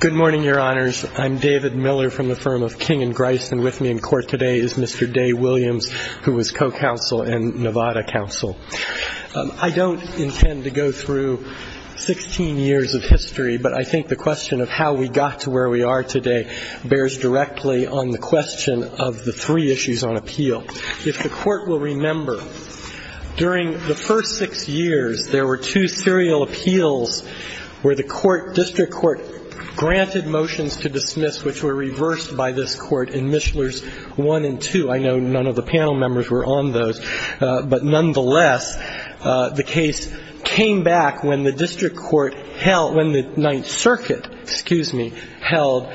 Good morning, Your Honors. I'm David Miller from the firm of King & Grice, and with me in court today is Mr. Day Williams, who is co-counsel and Nevada counsel. I don't intend to go through 16 years of history, but I think the question of how we got to where we are today bears directly on the question of the three issues on appeal. If the Court will remember, during the first six years, there were two serial appeals where the District Court granted motions to dismiss, which were reversed by this Court in Mishler's 1 and 2. I know none of the panel members were on those, but nonetheless, the case came back when the District Court held, when the Ninth Circuit, excuse me, held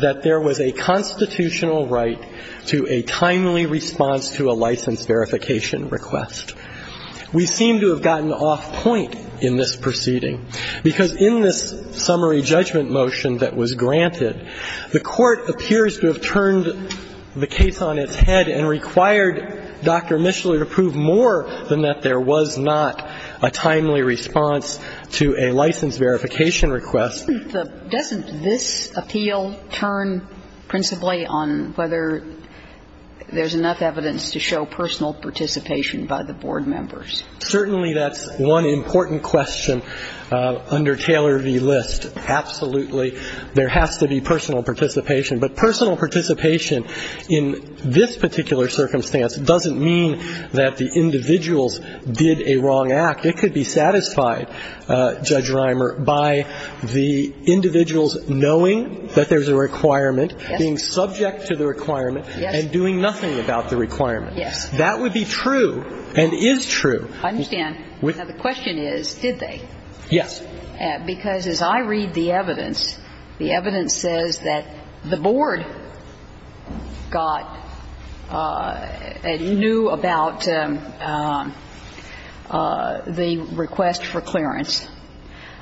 that there was a constitutional right to a timely response to a license verification request. We seem to have gotten off point in this proceeding, because in this summary judgment motion that was granted, the Court appears to have turned the case on its head and required Dr. Mishler to prove more than that there was not a timely response to a license verification request. Doesn't this appeal turn principally on whether there's enough evidence to show personal participation by the board members? Certainly, that's one important question under Taylor v. List. Absolutely. There has to be personal participation. But personal participation in this particular circumstance doesn't mean that the individuals did a wrong act. It could be satisfied, Judge Reimer, by the individuals knowing that there's a requirement, being subject to the requirement, and doing nothing about the requirement. Yes. That would be true and is true. I understand. Now, the question is, did they? Yes. Because as I read the evidence, the evidence says that the board got and knew about the request for clearance.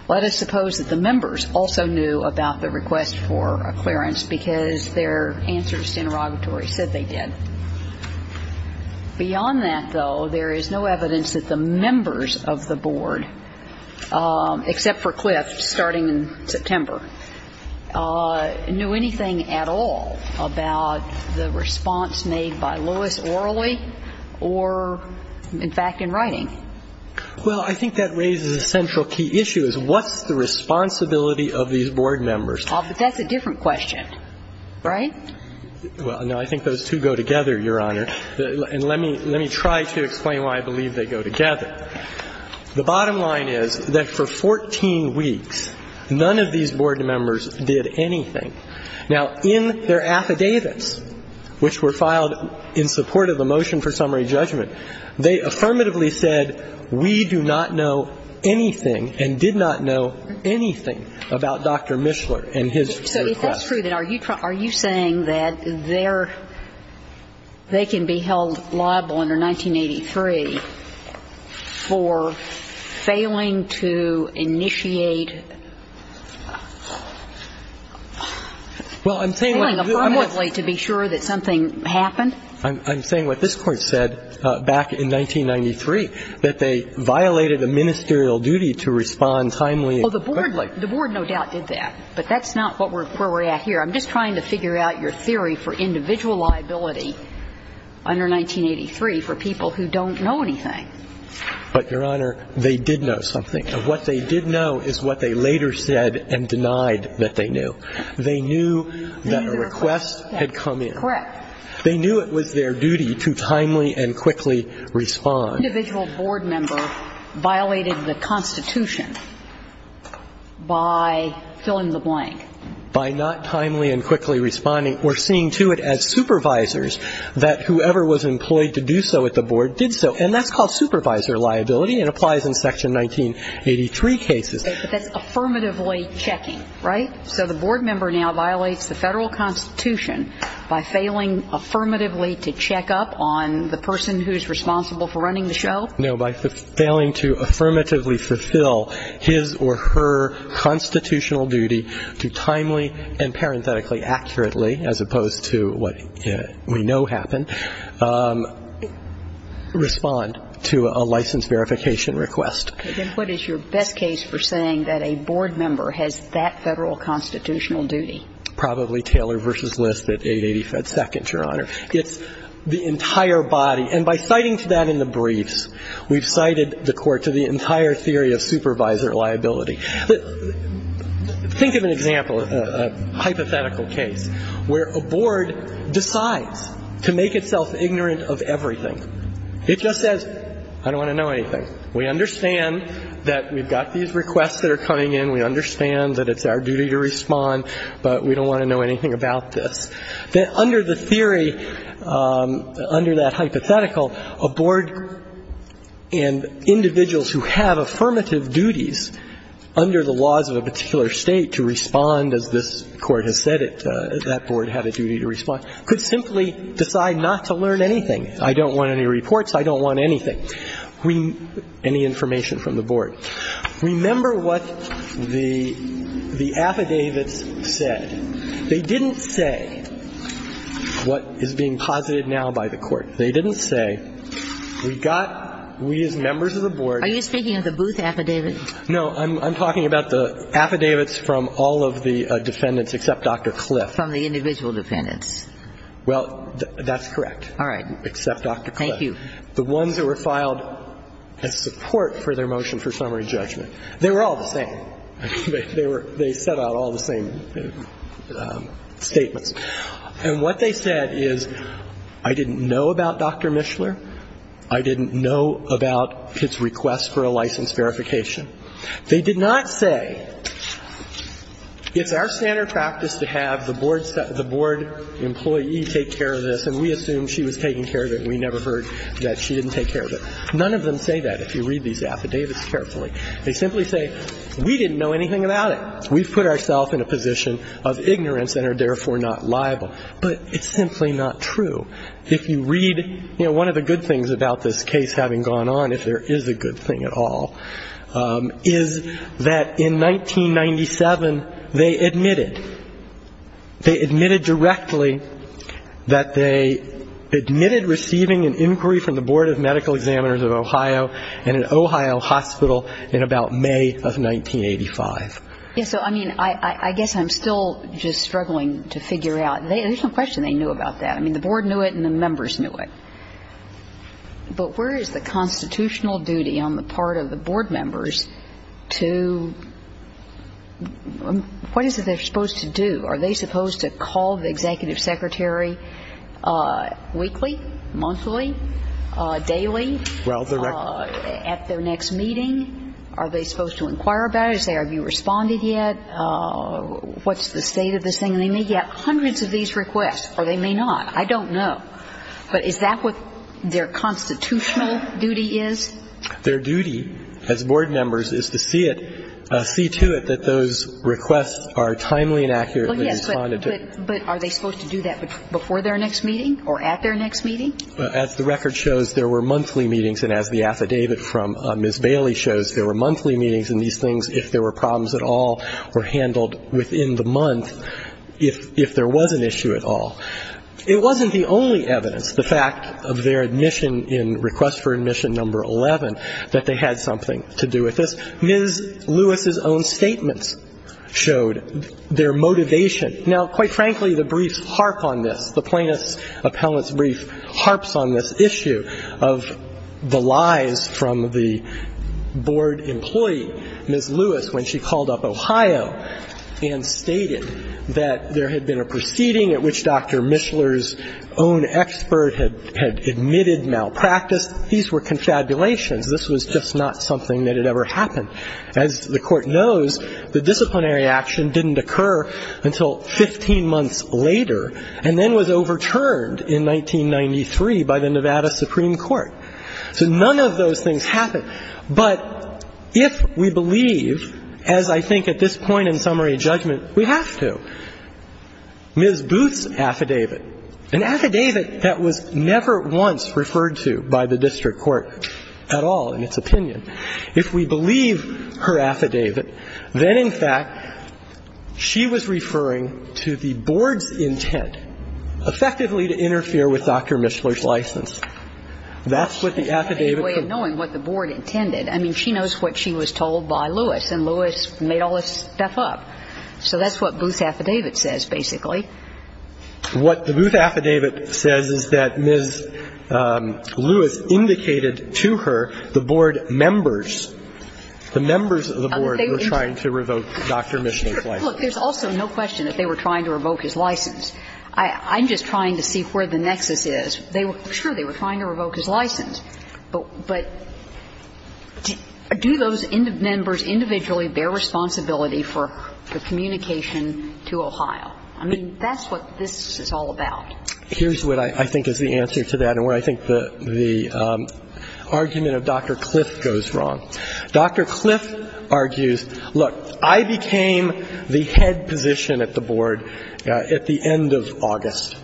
Let us suppose that the members also knew about the request for a clearance because their answers to interrogatory said they did. Beyond that, though, there is no evidence that the members of the board, except for Clift, starting in September, knew anything at all about the response made by Lewis orally or, in fact, in writing. Well, I think that raises a central key issue, is what's the responsibility of these board members? Well, but that's a different question, right? Well, no. I think those two go together, Your Honor. And let me try to explain why I believe they go together. The bottom line is that for 14 weeks, none of these board members did anything. Now, in their affidavits, which were filed in support of the motion for summary judgment, they affirmatively said, we do not know anything and did not know anything about Dr. Mishler and his request. So if that's true, then are you saying that they're they can be held liable under 1983 for failing to initiate well, failing affirmatively to be sure that something happened? I'm saying what this Court said back in 1993, that they violated a ministerial duty to respond timely. Well, the board no doubt did that, but that's not where we're at here. I'm just trying to figure out your theory for individual liability under 1983 for people who don't know anything. But, Your Honor, they did know something. And what they did know is what they later said and denied that they knew. They knew that a request had come in. Correct. They knew it was their duty to timely and quickly respond. An individual board member violated the Constitution by fill-in-the-blank. By not timely and quickly responding. We're seeing to it as supervisors that whoever was employed to do so at the board did so. And that's called supervisor liability and applies in Section 1983 cases. But that's affirmatively checking, right? So the board member now violates the Federal Constitution by failing affirmatively to check up on the person who's responsible for running the show? No. By failing to affirmatively fulfill his or her constitutional duty to timely and parenthetically accurately, as opposed to what we know happened, respond to a license verification request. Then what is your best case for saying that a board member has that Federal constitutional duty? Probably Taylor v. List at 880 FedSecond, Your Honor. It's the entire body. And by citing to that in the briefs, we've cited the court to the entire theory of supervisor liability. Think of an example, a hypothetical case, where a board decides to make itself ignorant of everything. It just says, I don't want to know anything. We understand that we've got these requests that are coming in. We understand that it's our duty to respond, but we don't want to know anything about this. Then under the theory, under that hypothetical, a board and individuals who have affirmative duties under the laws of a particular State to respond, as this Court has said it, that board had a duty to respond, could simply decide not to learn anything. I don't want any reports. I don't want anything. We need any information from the board. Remember what the affidavits said. They didn't say what is being posited now by the court. They didn't say, we've got, we as members of the board. Are you speaking of the Booth affidavit? No. I'm talking about the affidavits from all of the defendants, except Dr. Cliff. From the individual defendants. Well, that's correct. All right. Except Dr. Cliff. Thank you. The ones that were filed as support for their motion for summary judgment, they were all the same. They were, they set out all the same statements. And what they said is, I didn't know about Dr. Mishler. I didn't know about his request for a license verification. They did not say, it's our standard practice to have the board employee take care of this, and we assumed she was taking care of it, and we never heard that she didn't take care of it. None of them say that if you read these affidavits carefully. They simply say, we didn't know anything about it. We've put ourselves in a position of ignorance and are therefore not liable. But it's simply not true. If you read, you know, one of the good things about this case having gone on, if there is a good thing at all, is that in 1997, they admitted directly that they admitted receiving an inquiry from the Board of Medical Examiners of Ohio in an Ohio hospital in about May of 1985. Yes. So, I mean, I guess I'm still just struggling to figure out. There's no question they knew about that. I mean, the board knew it and the members knew it. But where is the constitutional duty on the part of the board members to, what is it they're supposed to call the executive secretary weekly, monthly, daily, at their next meeting? Are they supposed to inquire about it, say, have you responded yet? What's the state of this thing? And they may get hundreds of these requests, or they may not. I don't know. But is that what their constitutional duty is? Their duty as board members is to see it, see to it that those requests are timely and accurately responded to. Well, yes. But are they supposed to do that before their next meeting or at their next meeting? As the record shows, there were monthly meetings. And as the affidavit from Ms. Bailey shows, there were monthly meetings. And these things, if there were problems at all, were handled within the month if there was an issue at all. It wasn't the only evidence, the fact of their admission in request for admission number 11, that they had something to do with this. Ms. Lewis's own statements showed their motivation. Now, quite frankly, the brief harp on this, the plaintiff's appellant's brief harps on this issue of the lies from the board employee, Ms. Lewis, when she called up Ohio and stated that there had been a proceeding at which Dr. Mishler's own expert had admitted malpractice, these were confabulations. This was just not something that had ever happened. As the Court knows, the disciplinary action didn't occur until 15 months later, and then was overturned in 1993 by the Nevada Supreme Court. So none of those things happened. But if we believe, as I think at this point in summary judgment, we have to, Ms. Booth's affidavit, and I don't know if it's true at all in its opinion, if we believe her affidavit, then, in fact, she was referring to the board's intent, effectively, to interfere with Dr. Mishler's license. That's what the affidavit concerns. But she had a way of knowing what the board intended. I mean, she knows what she was told by Lewis, and Lewis made all this stuff up. So that's what Booth's affidavit says, basically. What the Booth affidavit says is that Ms. Lewis indicated to her the board members, the members of the board were trying to revoke Dr. Mishler's license. Look, there's also no question that they were trying to revoke his license. I'm just trying to see where the nexus is. Sure, they were trying to revoke his license, but do those members individually bear responsibility for the communication to Ohio? I mean, that's what this is all about. Here's what I think is the answer to that and where I think the argument of Dr. Cliff goes wrong. Dr. Cliff argues, look, I became the head position at the board at the end of August.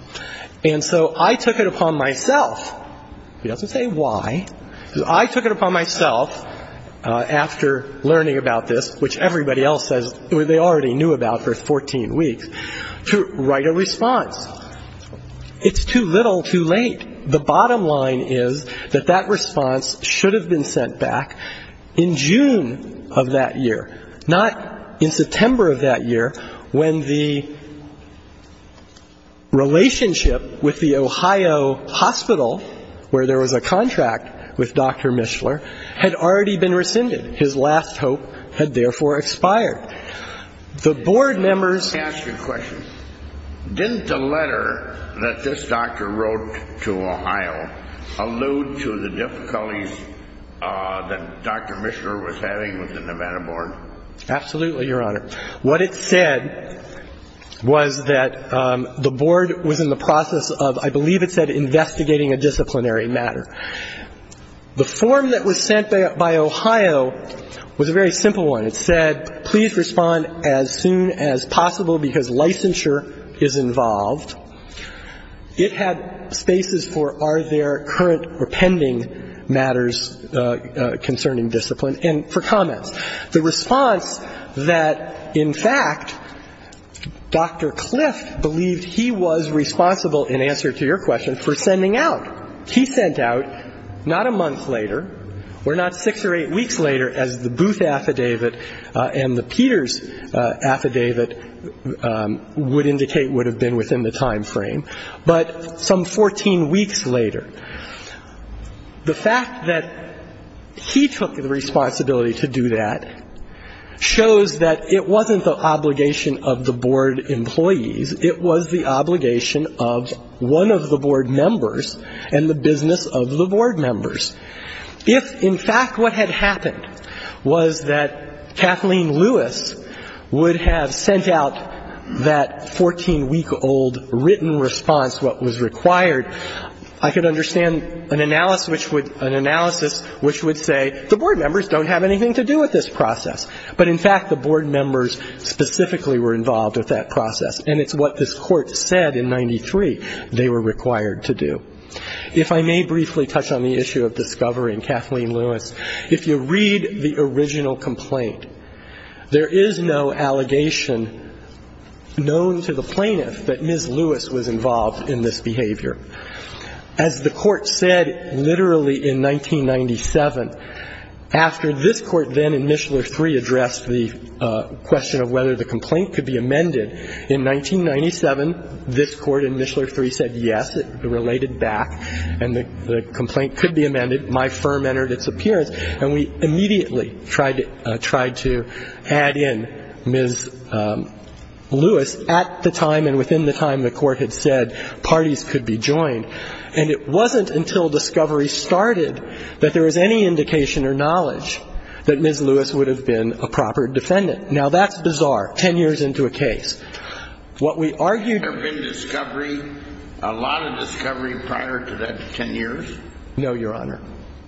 And so I took it upon myself. He doesn't say why. I took it upon myself after learning about this, which everybody else says they already knew about for 14 weeks, to write a response. It's too little, too late. The bottom line is that that response should have been sent back in June of that year, not in September of that year, when the relationship with the Ohio hospital, where there was a contract with Dr. Mishler, had already been rescinded. His last hope had therefore expired. The board members. Let me ask you a question. Didn't the letter that this doctor wrote to Ohio allude to the difficulties that Dr. Mishler was having with the Nevada board? Absolutely, Your Honor. What it said was that the board was in the process of, I believe it said, investigating a disciplinary matter. The form that was sent by Ohio was a very simple one. It said, please respond as soon as possible because licensure is involved. It had spaces for are there current or pending matters concerning discipline and for comments. The response that, in fact, Dr. Cliff believed he was responsible, in answer to your question, for sending out. He sent out not a month later or not six or eight weeks later, as the Booth affidavit and the Peters affidavit would indicate would have been within the time frame, but some 14 weeks later. The fact that he took the responsibility to do that shows that it wasn't the obligation of the board employees. It was the obligation of one of the board members and the business of the board members. If, in fact, what had happened was that Kathleen Lewis would have sent out that 14-week-old written response, what was required, I could understand an analysis which would say the board members don't have anything to do with this process. But, in fact, the board members specifically were involved with that process, and it's what this Court said in 93 they were required to do. If I may briefly touch on the issue of discovery and Kathleen Lewis. If you read the original complaint, there is no allegation known to the plaintiff that Ms. Lewis was involved in this behavior. As the Court said literally in 1997, after this Court then in Mishler III addressed the question of whether the complaint could be amended, in 1997, this Court in Mishler III said yes, it related back, and the complaint could be amended. My firm entered its appearance. And we immediately tried to add in Ms. Lewis at the time and within the time the Court had said parties could be joined. And it wasn't until discovery started that there was any indication or knowledge that Ms. Lewis would have been a proper defendant. Now, that's bizarre, 10 years into a case. What we argued ---- There have been discovery, a lot of discovery prior to that 10 years? No, Your Honor.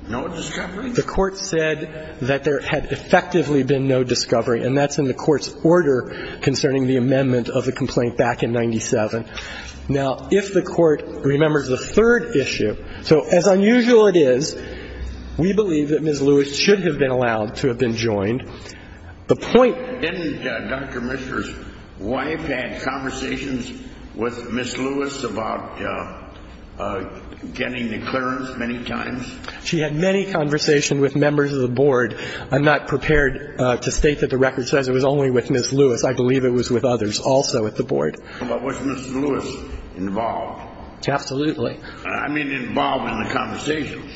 No discovery? The Court said that there had effectively been no discovery, and that's in the Court's order concerning the amendment of the complaint back in 97. Now, if the Court remembers the third issue, so as unusual it is, we believe that Ms. Lewis should have been allowed to have been joined. The point ---- Didn't Dr. Mishler's wife have conversations with Ms. Lewis about getting the clearance many times? She had many conversations with members of the Board. I'm not prepared to state that the record says it was only with Ms. Lewis. I believe it was with others also at the Board. But was Ms. Lewis involved? Absolutely. I mean involved in the conversations.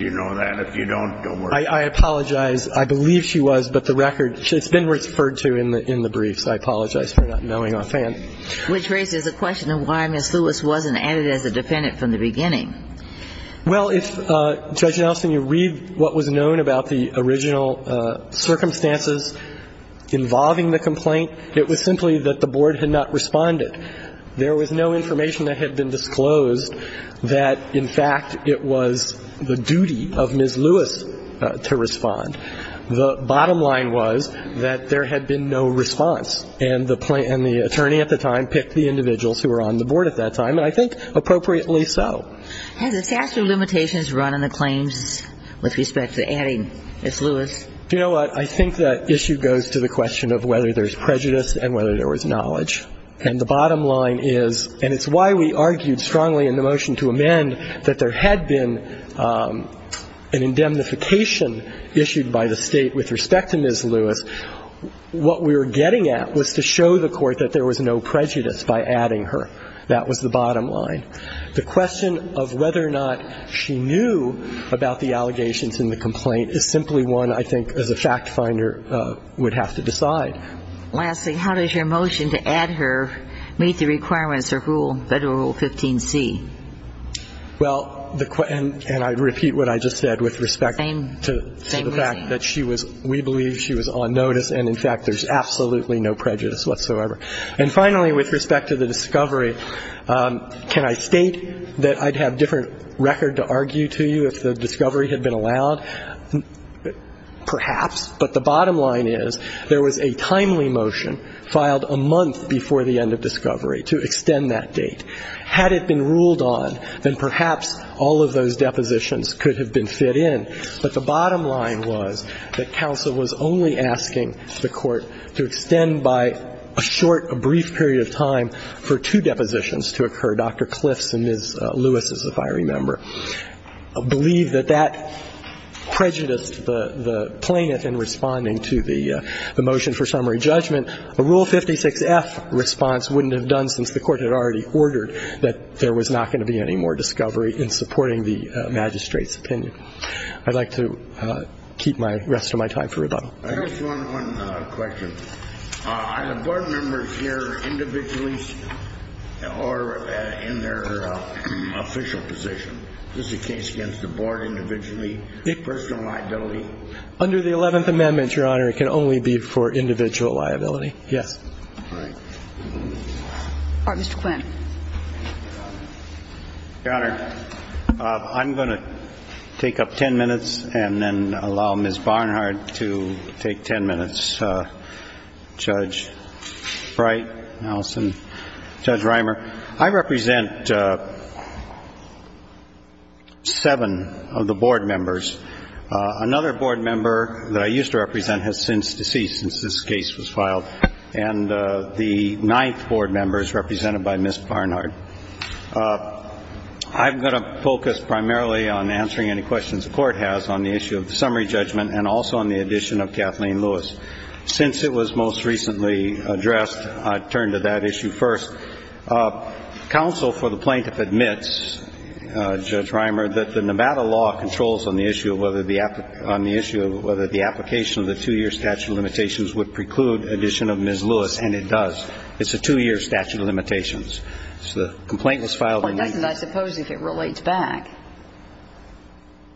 You know that. If you don't, don't worry. I apologize. I believe she was, but the record ---- it's been referred to in the briefs. I apologize for not knowing offhand. Which raises a question of why Ms. Lewis wasn't added as a defendant from the beginning. Well, if, Judge Nelson, you read what was known about the original circumstances involving the complaint, it was simply that the Board had not responded. There was no information that had been disclosed that, in fact, it was the duty of Ms. Lewis to respond. The bottom line was that there had been no response, and the attorney at the time picked the individuals who were on the Board at that time, and I think appropriately so. Has the statute of limitations run on the claims with respect to adding Ms. Lewis? Do you know what? I think that issue goes to the question of whether there's prejudice and whether there was knowledge. And the bottom line is, and it's why we argued strongly in the motion to amend, that there had been an indemnification issued by the State with respect to Ms. Lewis. What we were getting at was to show the Court that there was no prejudice by adding her. That was the bottom line. The question of whether or not she knew about the allegations in the complaint is simply one, I think, as a fact finder would have to decide. But lastly, how does your motion to add her meet the requirements of Rule, Federal Rule 15C? Well, and I repeat what I just said with respect to the fact that she was, we believe she was on notice, and, in fact, there's absolutely no prejudice whatsoever. And finally, with respect to the discovery, can I state that I'd have different record to argue to you if the discovery had been allowed? Perhaps. But the bottom line is there was a timely motion filed a month before the end of discovery to extend that date. Had it been ruled on, then perhaps all of those depositions could have been fit in. But the bottom line was that counsel was only asking the Court to extend by a short, a brief period of time for two depositions to occur, Dr. Clift's and Ms. Lewis's, if I remember. I believe that that prejudiced the plaintiff in responding to the motion for summary judgment. A Rule 56F response wouldn't have done since the Court had already ordered that there was not going to be any more discovery in supporting the magistrate's opinion. I'd like to keep my rest of my time for rebuttal. I just want one question. Are the board members here individually or in their official position? Is this a case against the board individually, personal liability? Under the Eleventh Amendment, Your Honor, it can only be for individual liability, yes. All right. Mr. Quinn. Your Honor, I'm going to take up ten minutes and then allow Ms. Barnhart to take ten minutes. Judge Bright, Allison, Judge Reimer, I represent seven of the board members. Another board member that I used to represent has since deceased, since this case was filed. And the ninth board member is represented by Ms. Barnhart. I'm going to focus primarily on answering any questions the Court has on the issue of the summary judgment and also on the addition of Kathleen Lewis. Since it was most recently addressed, I'd turn to that issue first. Counsel for the plaintiff admits, Judge Reimer, that the Nevada law controls on the issue of whether the application of the two-year statute of limitations would preclude addition of Ms. Lewis, and it does. It's a two-year statute of limitations. So the complaint was filed in April. Well, it doesn't, I suppose, if it relates back.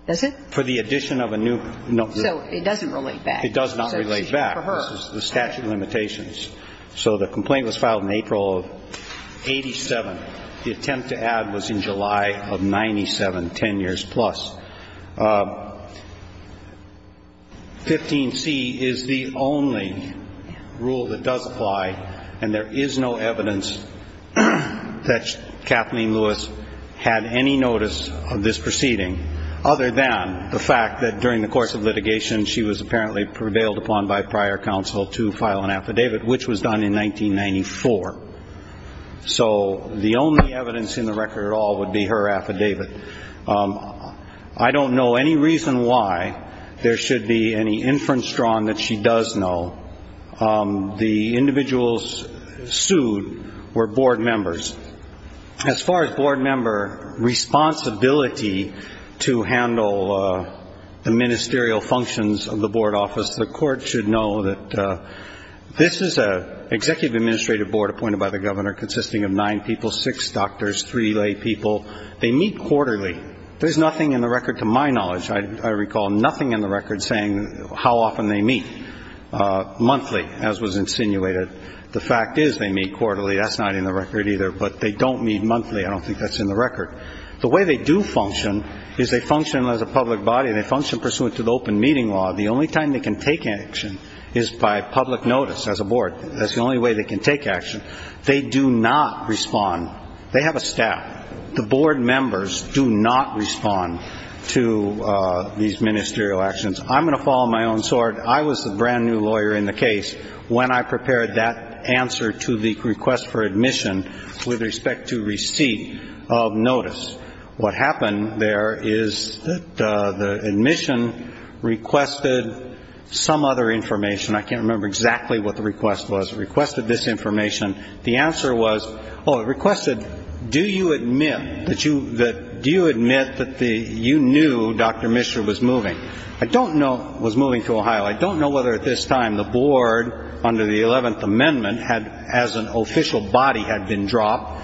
Does it? For the addition of a new note. So it doesn't relate back. It does not relate back. For her. This is the statute of limitations. So the complaint was filed in April of 87. The attempt to add was in July of 97, ten years plus. 15C is the only rule that does apply, and there is no evidence that Kathleen Lewis had any notice of this proceeding, other than the fact that during the course of litigation, she was apparently prevailed upon by prior counsel to file an affidavit, which was done in 1994. So the only evidence in the record at all would be her affidavit. I don't know any reason why there should be any inference drawn that she does know. The individuals sued were board members. As far as board member responsibility to handle the ministerial functions of the board office, the court should know that this is an executive administrative board appointed by the governor consisting of nine people, six doctors, three lay people. They meet quarterly. There's nothing in the record to my knowledge, I recall, nothing in the record saying how often they meet. Monthly, as was insinuated. The fact is they meet quarterly. That's not in the record either, but they don't meet monthly. I don't think that's in the record. The way they do function is they function as a public body, and they function pursuant to the open meeting law. The only time they can take action is by public notice as a board. That's the only way they can take action. They do not respond. They have a staff. The board members do not respond to these ministerial actions. I'm going to follow my own sword. I was the brand-new lawyer in the case when I prepared that answer to the request for admission with respect to receipt of notice. What happened there is that the admission requested some other information. I can't remember exactly what the request was. It requested this information. The answer was, oh, it requested, do you admit that you knew Dr. Mishra was moving? I don't know if he was moving to Ohio. I don't know whether at this time the board, under the 11th Amendment, as an official body, had been dropped.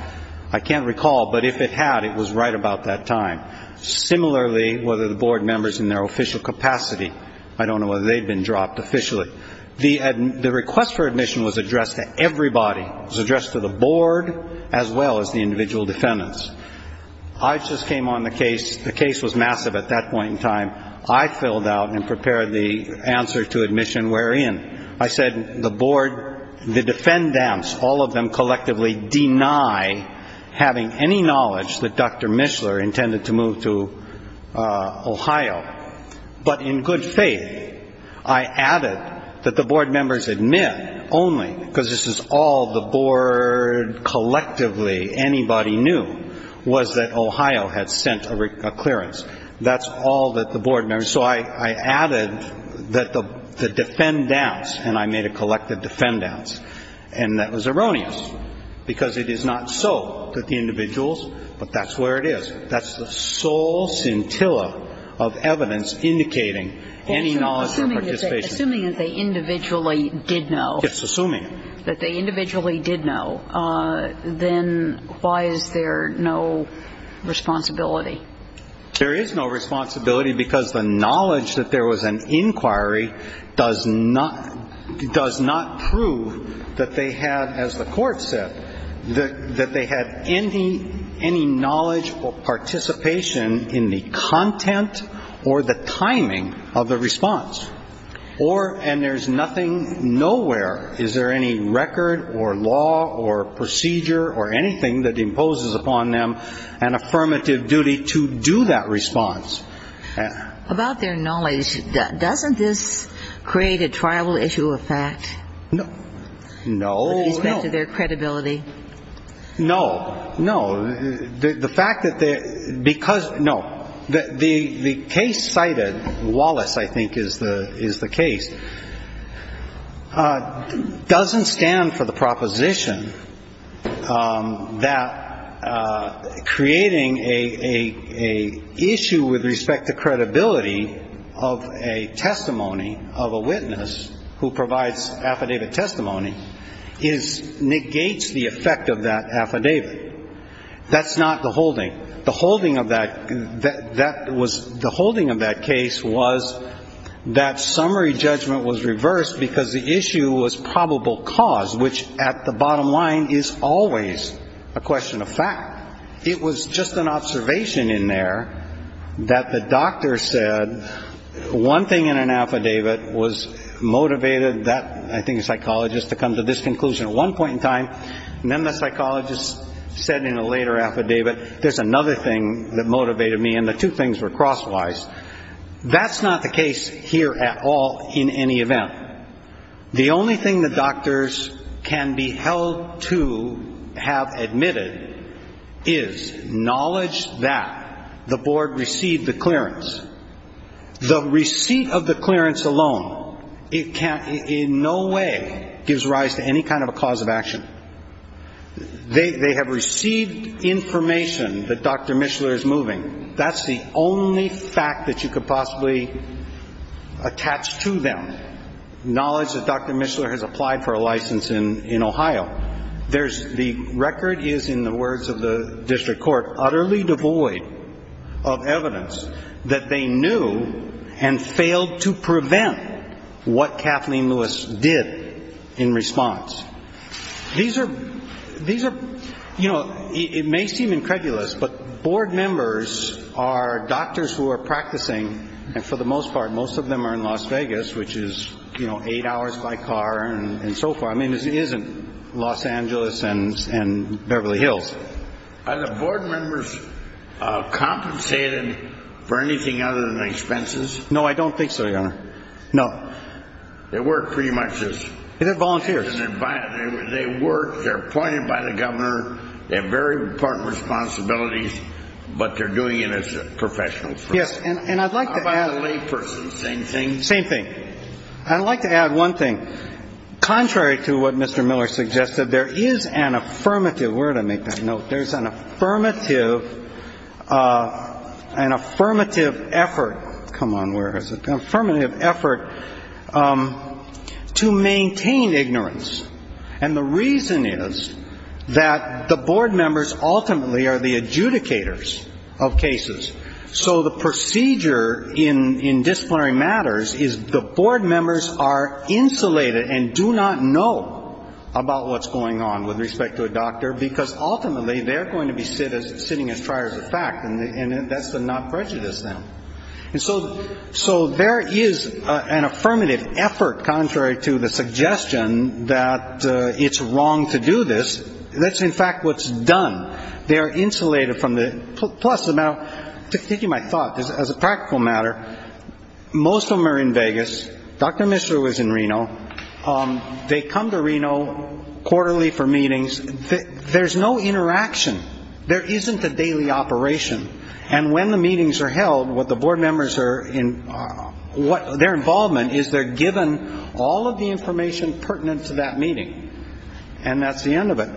I can't recall, but if it had, it was right about that time. Similarly, whether the board members in their official capacity, I don't know whether they'd been dropped officially. The request for admission was addressed to everybody. It was addressed to the board as well as the individual defendants. I just came on the case. The case was massive at that point in time. I filled out and prepared the answer to admission wherein. I said the board, the defendants, all of them collectively deny having any knowledge that Dr. Mishra intended to move to Ohio. But in good faith, I added that the board members admit only, because this is all the board collectively, anybody knew, was that Ohio had sent a clearance. That's all that the board members, so I added that the defendants, and I made a collective defendants. And that was erroneous, because it is not so that the individuals, but that's where it is. That's the sole scintilla of evidence indicating any knowledge or participation. Assuming that they individually did know. It's assuming. That they individually did know, then why is there no responsibility? There is no responsibility, because the knowledge that there was an inquiry does not prove that they had, as the court said, that they had any knowledge or participation in the content or the timing of the response. Or, and there's nothing nowhere, is there any record or law or procedure or anything that imposes upon them an affirmative duty to do that response? About their knowledge, doesn't this create a tribal issue of fact? No, no. With respect to their credibility? No, no. The fact that they're, because, no. The case cited, Wallace, I think, is the case, doesn't stand for the proposition that creating a issue with respect to credibility of a testimony, of a witness who provides affidavit testimony, is, negates the effect of that affidavit. That's not the holding. The holding of that, that was, the holding of that case was that summary judgment was reversed because the issue was probable cause, which, at the bottom line, is always a question of fact. It was just an observation in there that the doctor said one thing in an affidavit was motivated that, I think, psychologist to come to this conclusion at one point in time, and then the psychologist said in a later affidavit, there's another thing that motivated me, and the two things were crosswise. That's not the case here at all in any event. The only thing that doctors can be held to have admitted is knowledge that the board received the clearance. The receipt of the clearance alone, it can't, in no way, gives rise to any kind of a cause of action. They have received information that Dr. Mishler is moving. That's the only fact that you could possibly attach to them, knowledge that Dr. Mishler has applied for a license in Ohio. There's, the record is, in the words of the district court, utterly devoid of evidence that they knew and failed to prevent what Kathleen Lewis did in response. These are, you know, it may seem incredulous, but board members are doctors who are practicing, and for the most part, most of them are in Las Vegas, which is, you know, eight hours by car and so forth. I mean, this isn't Los Angeles and Beverly Hills. Are the board members compensated for anything other than expenses? No, I don't think so, Your Honor. No. They work pretty much as. They're volunteers. They work, they're appointed by the governor, they have very important responsibilities, but they're doing it as professionals. Yes, and I'd like to add. How about the layperson, same thing? Same thing. I'd like to add one thing. Contrary to what Mr. Miller suggested, there is an affirmative, where did I make that note? There is an affirmative, an affirmative effort. Come on, where is it? An affirmative effort to maintain ignorance. And the reason is that the board members ultimately are the adjudicators of cases. So the procedure in disciplinary matters is the board members are insulated and do not know about what's going on with respect to a doctor, because ultimately they're going to be sitting as triers of fact. And that's the not prejudice then. And so there is an affirmative effort, contrary to the suggestion that it's wrong to do this. That's, in fact, what's done. They are insulated from the. Plus, now, taking my thought as a practical matter, most of them are in Vegas. Dr. Mishra was in Reno. They come to Reno quarterly for meetings. There's no interaction. There isn't a daily operation. And when the meetings are held, what the board members are in, their involvement is they're given all of the information pertinent to that meeting. And that's the end of it.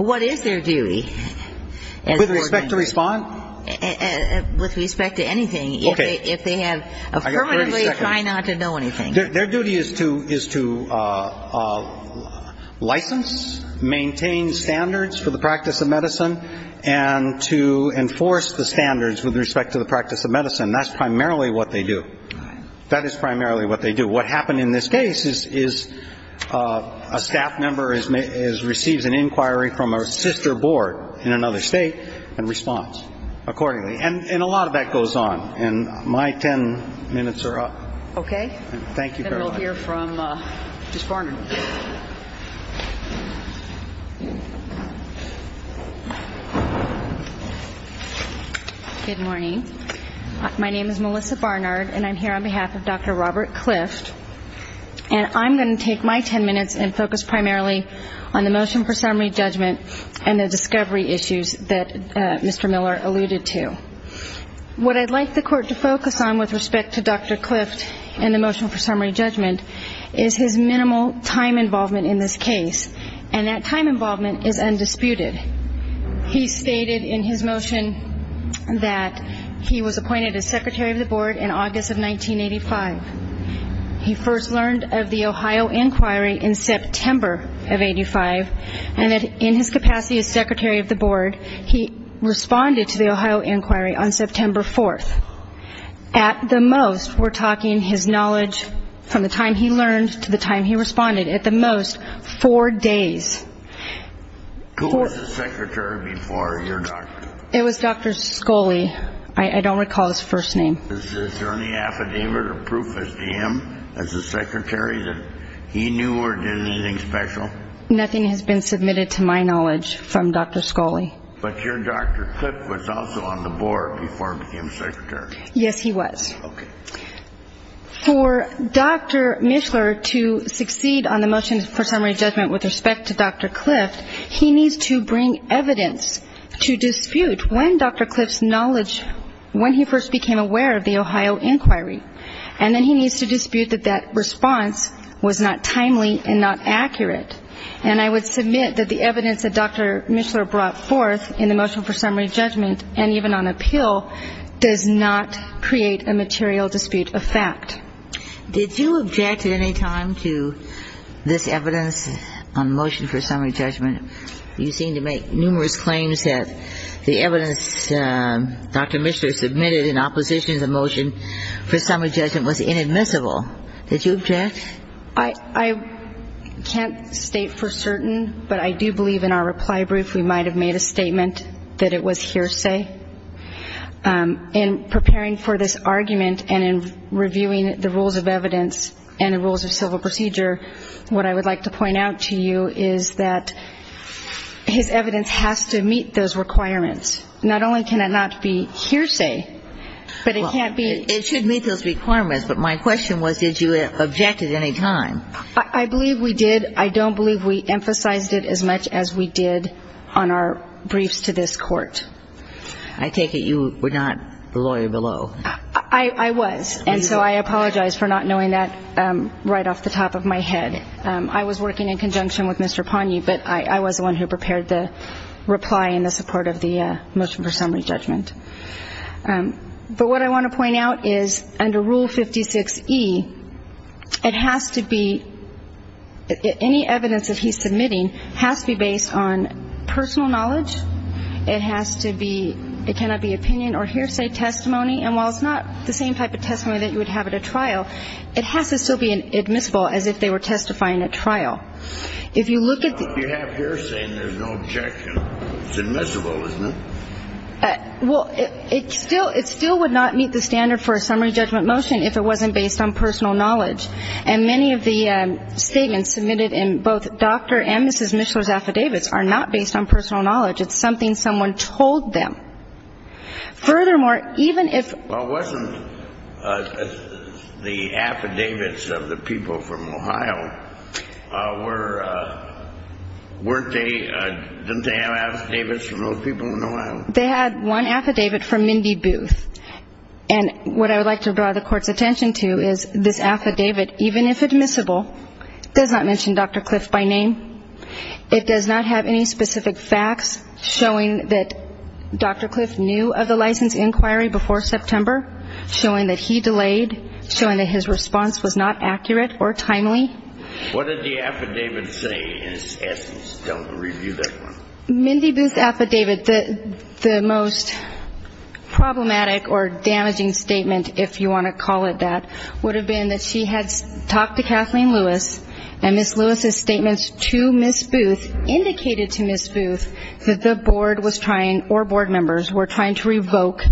What is their duty? With respect to respond? With respect to anything. If they have affirmatively try not to know anything. Their duty is to license, maintain standards for the practice of medicine, and to enforce the standards with respect to the practice of medicine. That's primarily what they do. That is primarily what they do. What happened in this case is a staff member receives an inquiry from a sister board in another state and responds accordingly. And a lot of that goes on. And my ten minutes are up. Okay. Thank you, Caroline. Then we'll hear from Ms. Barnard. Good morning. My name is Melissa Barnard, and I'm here on behalf of Dr. Robert Clift. And I'm going to take my ten minutes and focus primarily on the motion for summary judgment and the discovery issues that Mr. Miller alluded to. What I'd like the court to focus on with respect to Dr. Clift and the motion for summary judgment is his minimal time involvement in this case. And that time involvement is undisputed. He stated in his motion that he was appointed as Secretary of the Board in August of 1985. He first learned of the Ohio Inquiry in September of 1985. And in his capacity as Secretary of the Board, he responded to the Ohio Inquiry on September 4th. At the most, we're talking his knowledge from the time he learned to the time he responded. At the most, four days. Who was the Secretary before your doctor? It was Dr. Scholey. I don't recall his first name. Is there any affidavit or proof as to him as the Secretary that he knew or did anything special? Nothing has been submitted to my knowledge from Dr. Scholey. But your Dr. Clift was also on the Board before he became Secretary. Yes, he was. Okay. For Dr. Mishler to succeed on the motion for summary judgment with respect to Dr. Clift, he needs to bring evidence to dispute when Dr. Clift's knowledge, when he first became aware of the Ohio Inquiry. And then he needs to dispute that that response was not timely and not accurate. And I would submit that the evidence that Dr. Mishler brought forth in the motion for summary judgment and even on appeal does not create a material dispute of fact. Did you object at any time to this evidence on motion for summary judgment? You seem to make numerous claims that the evidence Dr. Mishler submitted in opposition to the motion for summary judgment was inadmissible. Did you object? I can't state for certain, but I do believe in our reply brief we might have made a statement that it was hearsay. In preparing for this argument and in reviewing the rules of evidence and the rules of civil procedure, what I would like to point out to you is that his evidence has to meet those requirements. Not only can it not be hearsay, but it can't be ---- It should meet those requirements, but my question was did you object at any time? I believe we did. I don't believe we emphasized it as much as we did on our briefs to this Court. I take it you were not the lawyer below. I was. And so I apologize for not knowing that right off the top of my head. I was working in conjunction with Mr. Poney, but I was the one who prepared the reply in the support of the motion for summary judgment. But what I want to point out is under Rule 56E, it has to be ---- any evidence that he's submitting has to be based on personal knowledge. It has to be ---- it cannot be opinion or hearsay testimony. And while it's not the same type of testimony that you would have at a trial, it has to still be admissible as if they were testifying at trial. If you look at the ---- If you have hearsay and there's no objection, it's admissible, isn't it? Well, it still would not meet the standard for a summary judgment motion if it wasn't based on personal knowledge. And many of the statements submitted in both Dr. and Mrs. Mishler's affidavits are not based on personal knowledge. It's something someone told them. Furthermore, even if ---- Well, wasn't the affidavits of the people from Ohio were ---- Didn't they have affidavits from those people in Ohio? They had one affidavit from Mindy Booth. And what I would like to draw the Court's attention to is this affidavit, even if admissible, does not mention Dr. Cliff by name. It does not have any specific facts showing that Dr. Cliff knew of the license inquiry before September, showing that he delayed, showing that his response was not accurate or timely. What did the affidavit say in its essence? Tell them to review that one. Mindy Booth's affidavit, the most problematic or damaging statement, if you want to call it that, would have been that she had talked to Kathleen Lewis and Ms. Lewis's statements to Ms. Booth indicated to Ms. Booth that the Board was trying or Board members were trying to revoke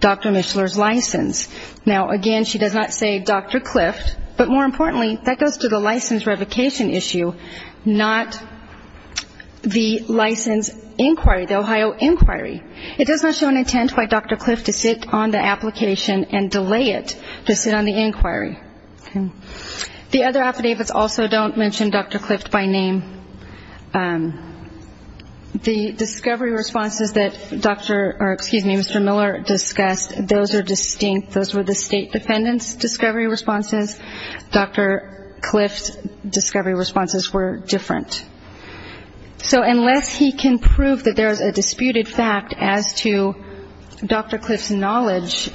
Dr. Mishler's license. Now, again, she does not say Dr. Cliff, but more importantly, that goes to the license revocation issue, not the license inquiry, the Ohio inquiry. It does not show an intent by Dr. Cliff to sit on the application and delay it to sit on the inquiry. The other affidavits also don't mention Dr. Cliff by name. The discovery responses that Dr. or excuse me, Mr. Miller discussed, those are distinct. Those were the state defendant's discovery responses. Dr. Cliff's discovery responses were different. So unless he can prove that there is a disputed fact as to Dr. Cliff's knowledge,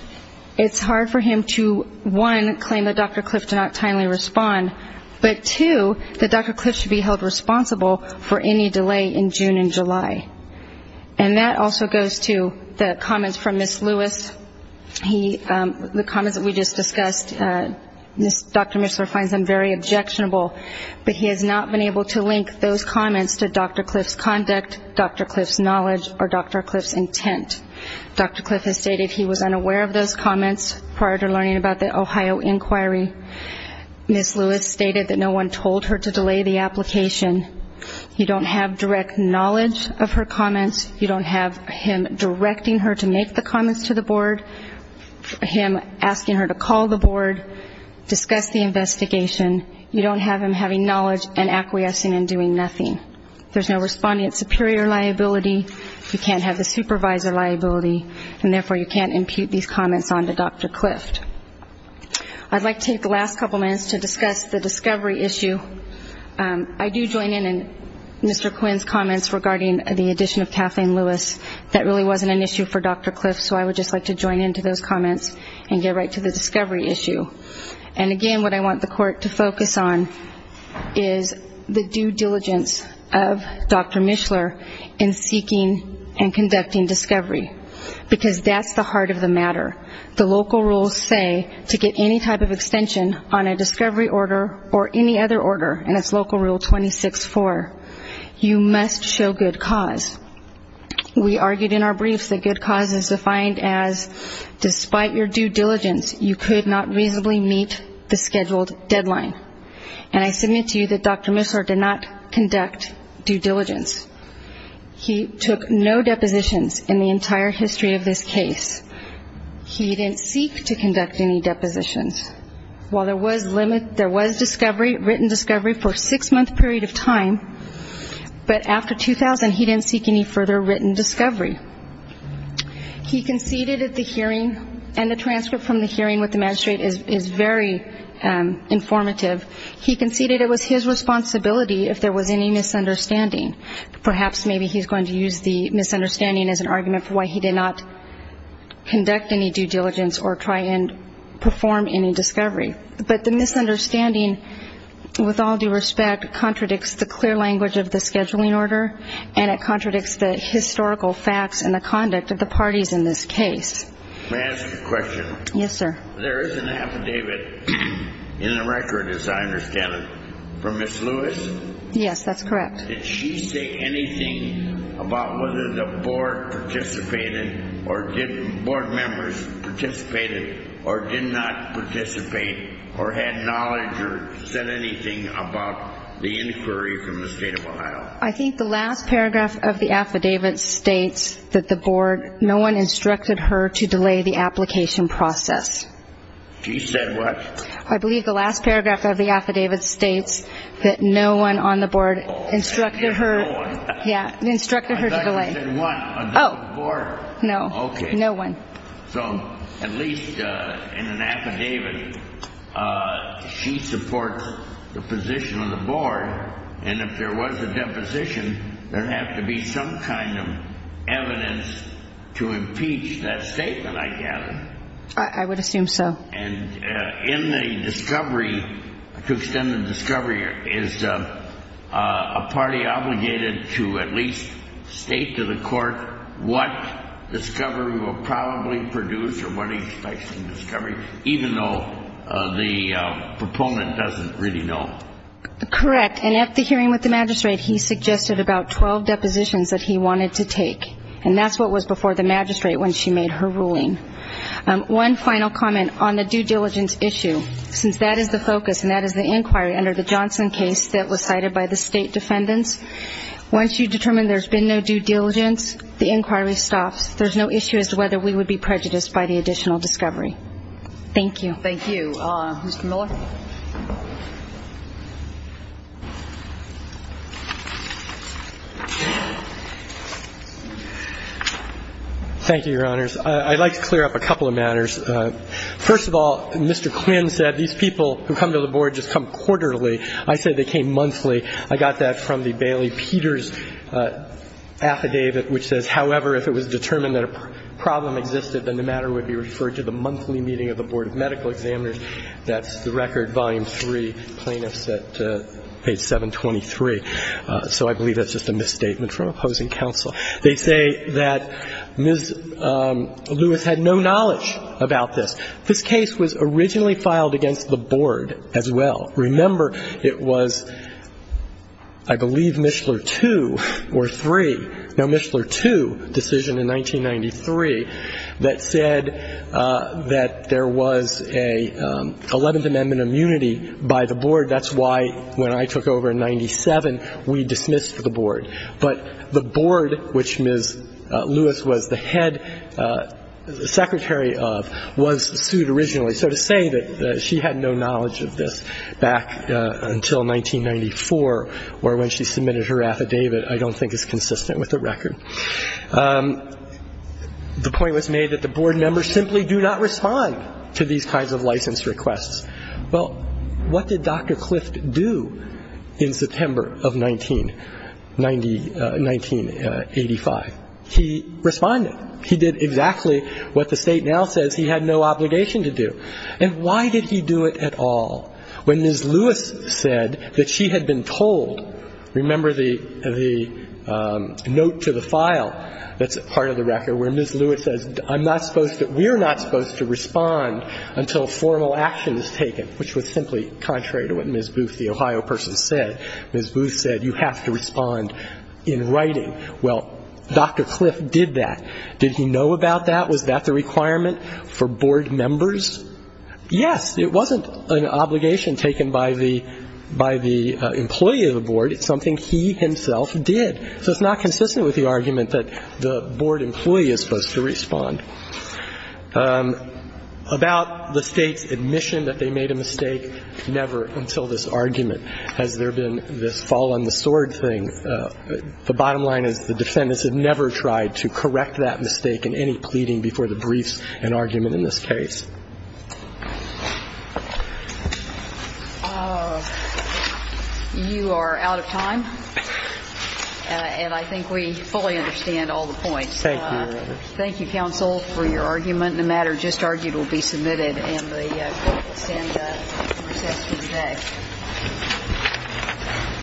it's hard for him to, one, claim that Dr. Cliff did not timely respond, but two, that Dr. Cliff should be held responsible for any delay in June and July. And that also goes to the comments from Ms. Lewis. The comments that we just discussed, Dr. Mishler finds them very objectionable, but he has not been able to link those comments to Dr. Cliff's conduct, Dr. Cliff's knowledge, or Dr. Cliff's intent. Dr. Cliff has stated he was unaware of those comments prior to learning about the Ohio inquiry. Ms. Lewis stated that no one told her to delay the application. You don't have direct knowledge of her comments. You don't have him directing her to make the comments to the board, him asking her to call the board, discuss the investigation. You don't have him having knowledge and acquiescing and doing nothing. There's no responding at superior liability. You can't have the supervisor liability, and therefore you can't impute these comments onto Dr. Cliff. I'd like to take the last couple minutes to discuss the discovery issue. I do join in Mr. Quinn's comments regarding the addition of Kathleen Lewis. That really wasn't an issue for Dr. Cliff, so I would just like to join in to those comments and get right to the discovery issue. And again, what I want the court to focus on is the due diligence of Dr. Mishler in seeking and conducting discovery, because that's the heart of the matter. The local rules say to get any type of extension on a discovery order or any other order, and it's local rule 26-4, you must show good cause. We argued in our briefs that good cause is defined as despite your due diligence, you could not reasonably meet the scheduled deadline. And I submit to you that Dr. Mishler did not conduct due diligence. He took no depositions in the entire history of this case. He didn't seek to conduct any depositions. While there was discovery, written discovery, for a six-month period of time, but after 2000 he didn't seek any further written discovery. He conceded at the hearing, and the transcript from the hearing with the magistrate is very informative, he conceded it was his responsibility if there was any misunderstanding. Perhaps maybe he's going to use the misunderstanding as an argument for why he did not conduct any due diligence or try and perform any discovery. But the misunderstanding, with all due respect, contradicts the clear language of the scheduling order, and it contradicts the historical facts and the conduct of the parties in this case. May I ask a question? Yes, sir. There is an affidavit in the record, as I understand it, from Ms. Lewis? Yes, that's correct. Did she say anything about whether the board participated or did board members participate or did not participate or had knowledge or said anything about the inquiry from the state of Ohio? I think the last paragraph of the affidavit states that the board, that no one instructed her to delay the application process. She said what? I believe the last paragraph of the affidavit states that no one on the board instructed her to delay. I thought you said one on the board. No, no one. So at least in an affidavit, she supports the position of the board, and if there was a deposition, there would have to be some kind of evidence to impeach that statement, I gather. I would assume so. And in the discovery, to extend the discovery, is a party obligated to at least state to the court what discovery will probably produce or what expects the discovery, even though the proponent doesn't really know? Correct. And at the hearing with the magistrate, he suggested about 12 depositions that he wanted to take, and that's what was before the magistrate when she made her ruling. One final comment on the due diligence issue. Since that is the focus and that is the inquiry under the Johnson case that was cited by the state defendants, once you determine there's been no due diligence, the inquiry stops. There's no issue as to whether we would be prejudiced by the additional discovery. Thank you. Thank you. Mr. Miller. Thank you, Your Honors. I'd like to clear up a couple of matters. First of all, Mr. Quinn said these people who come to the board just come quarterly. I said they came monthly. I got that from the Bailey-Peters affidavit, which says, however, if it was determined that a problem existed, then the matter would be referred to the monthly meeting of the board of medical examiners. That's the record, volume 3, plaintiffs at page 723. So I believe that's just a misstatement from opposing counsel. They say that Ms. Lewis had no knowledge about this. This case was originally filed against the board as well. Remember, it was, I believe, Mishler 2 or 3, no, Mishler 2, decision in 1993, that said that there was a 11th Amendment immunity by the board. That's why, when I took over in 97, we dismissed the board. But the board, which Ms. Lewis was the head, secretary of, was sued originally. So to say that she had no knowledge of this back until 1994, or when she submitted her affidavit, I don't think is consistent with the record. The point was made that the board members simply do not respond to these kinds of license requests. Well, what did Dr. Clift do in September of 1985? He responded. He did exactly what the State now says he had no obligation to do. And why did he do it at all when Ms. Lewis said that she had been told? Remember the note to the file that's part of the record where Ms. Lewis says, I'm not supposed to, we're not supposed to respond until formal action is taken, which was simply contrary to what Ms. Booth, the Ohio person, said. Ms. Booth said you have to respond in writing. Well, Dr. Clift did that. Did he know about that? Was that the requirement for board members? Yes. It wasn't an obligation taken by the employee of the board. It's something he himself did. So it's not consistent with the argument that the board employee is supposed to respond. About the State's admission that they made a mistake, never until this argument has there been this fall on the sword thing. The bottom line is the defendants have never tried to correct that mistake in any pleading before the briefs and argument in this case. You are out of time. And I think we fully understand all the points. Thank you, Your Honor. Thank you, counsel, for your argument. The matter just argued will be submitted, and the court will stand at recession today.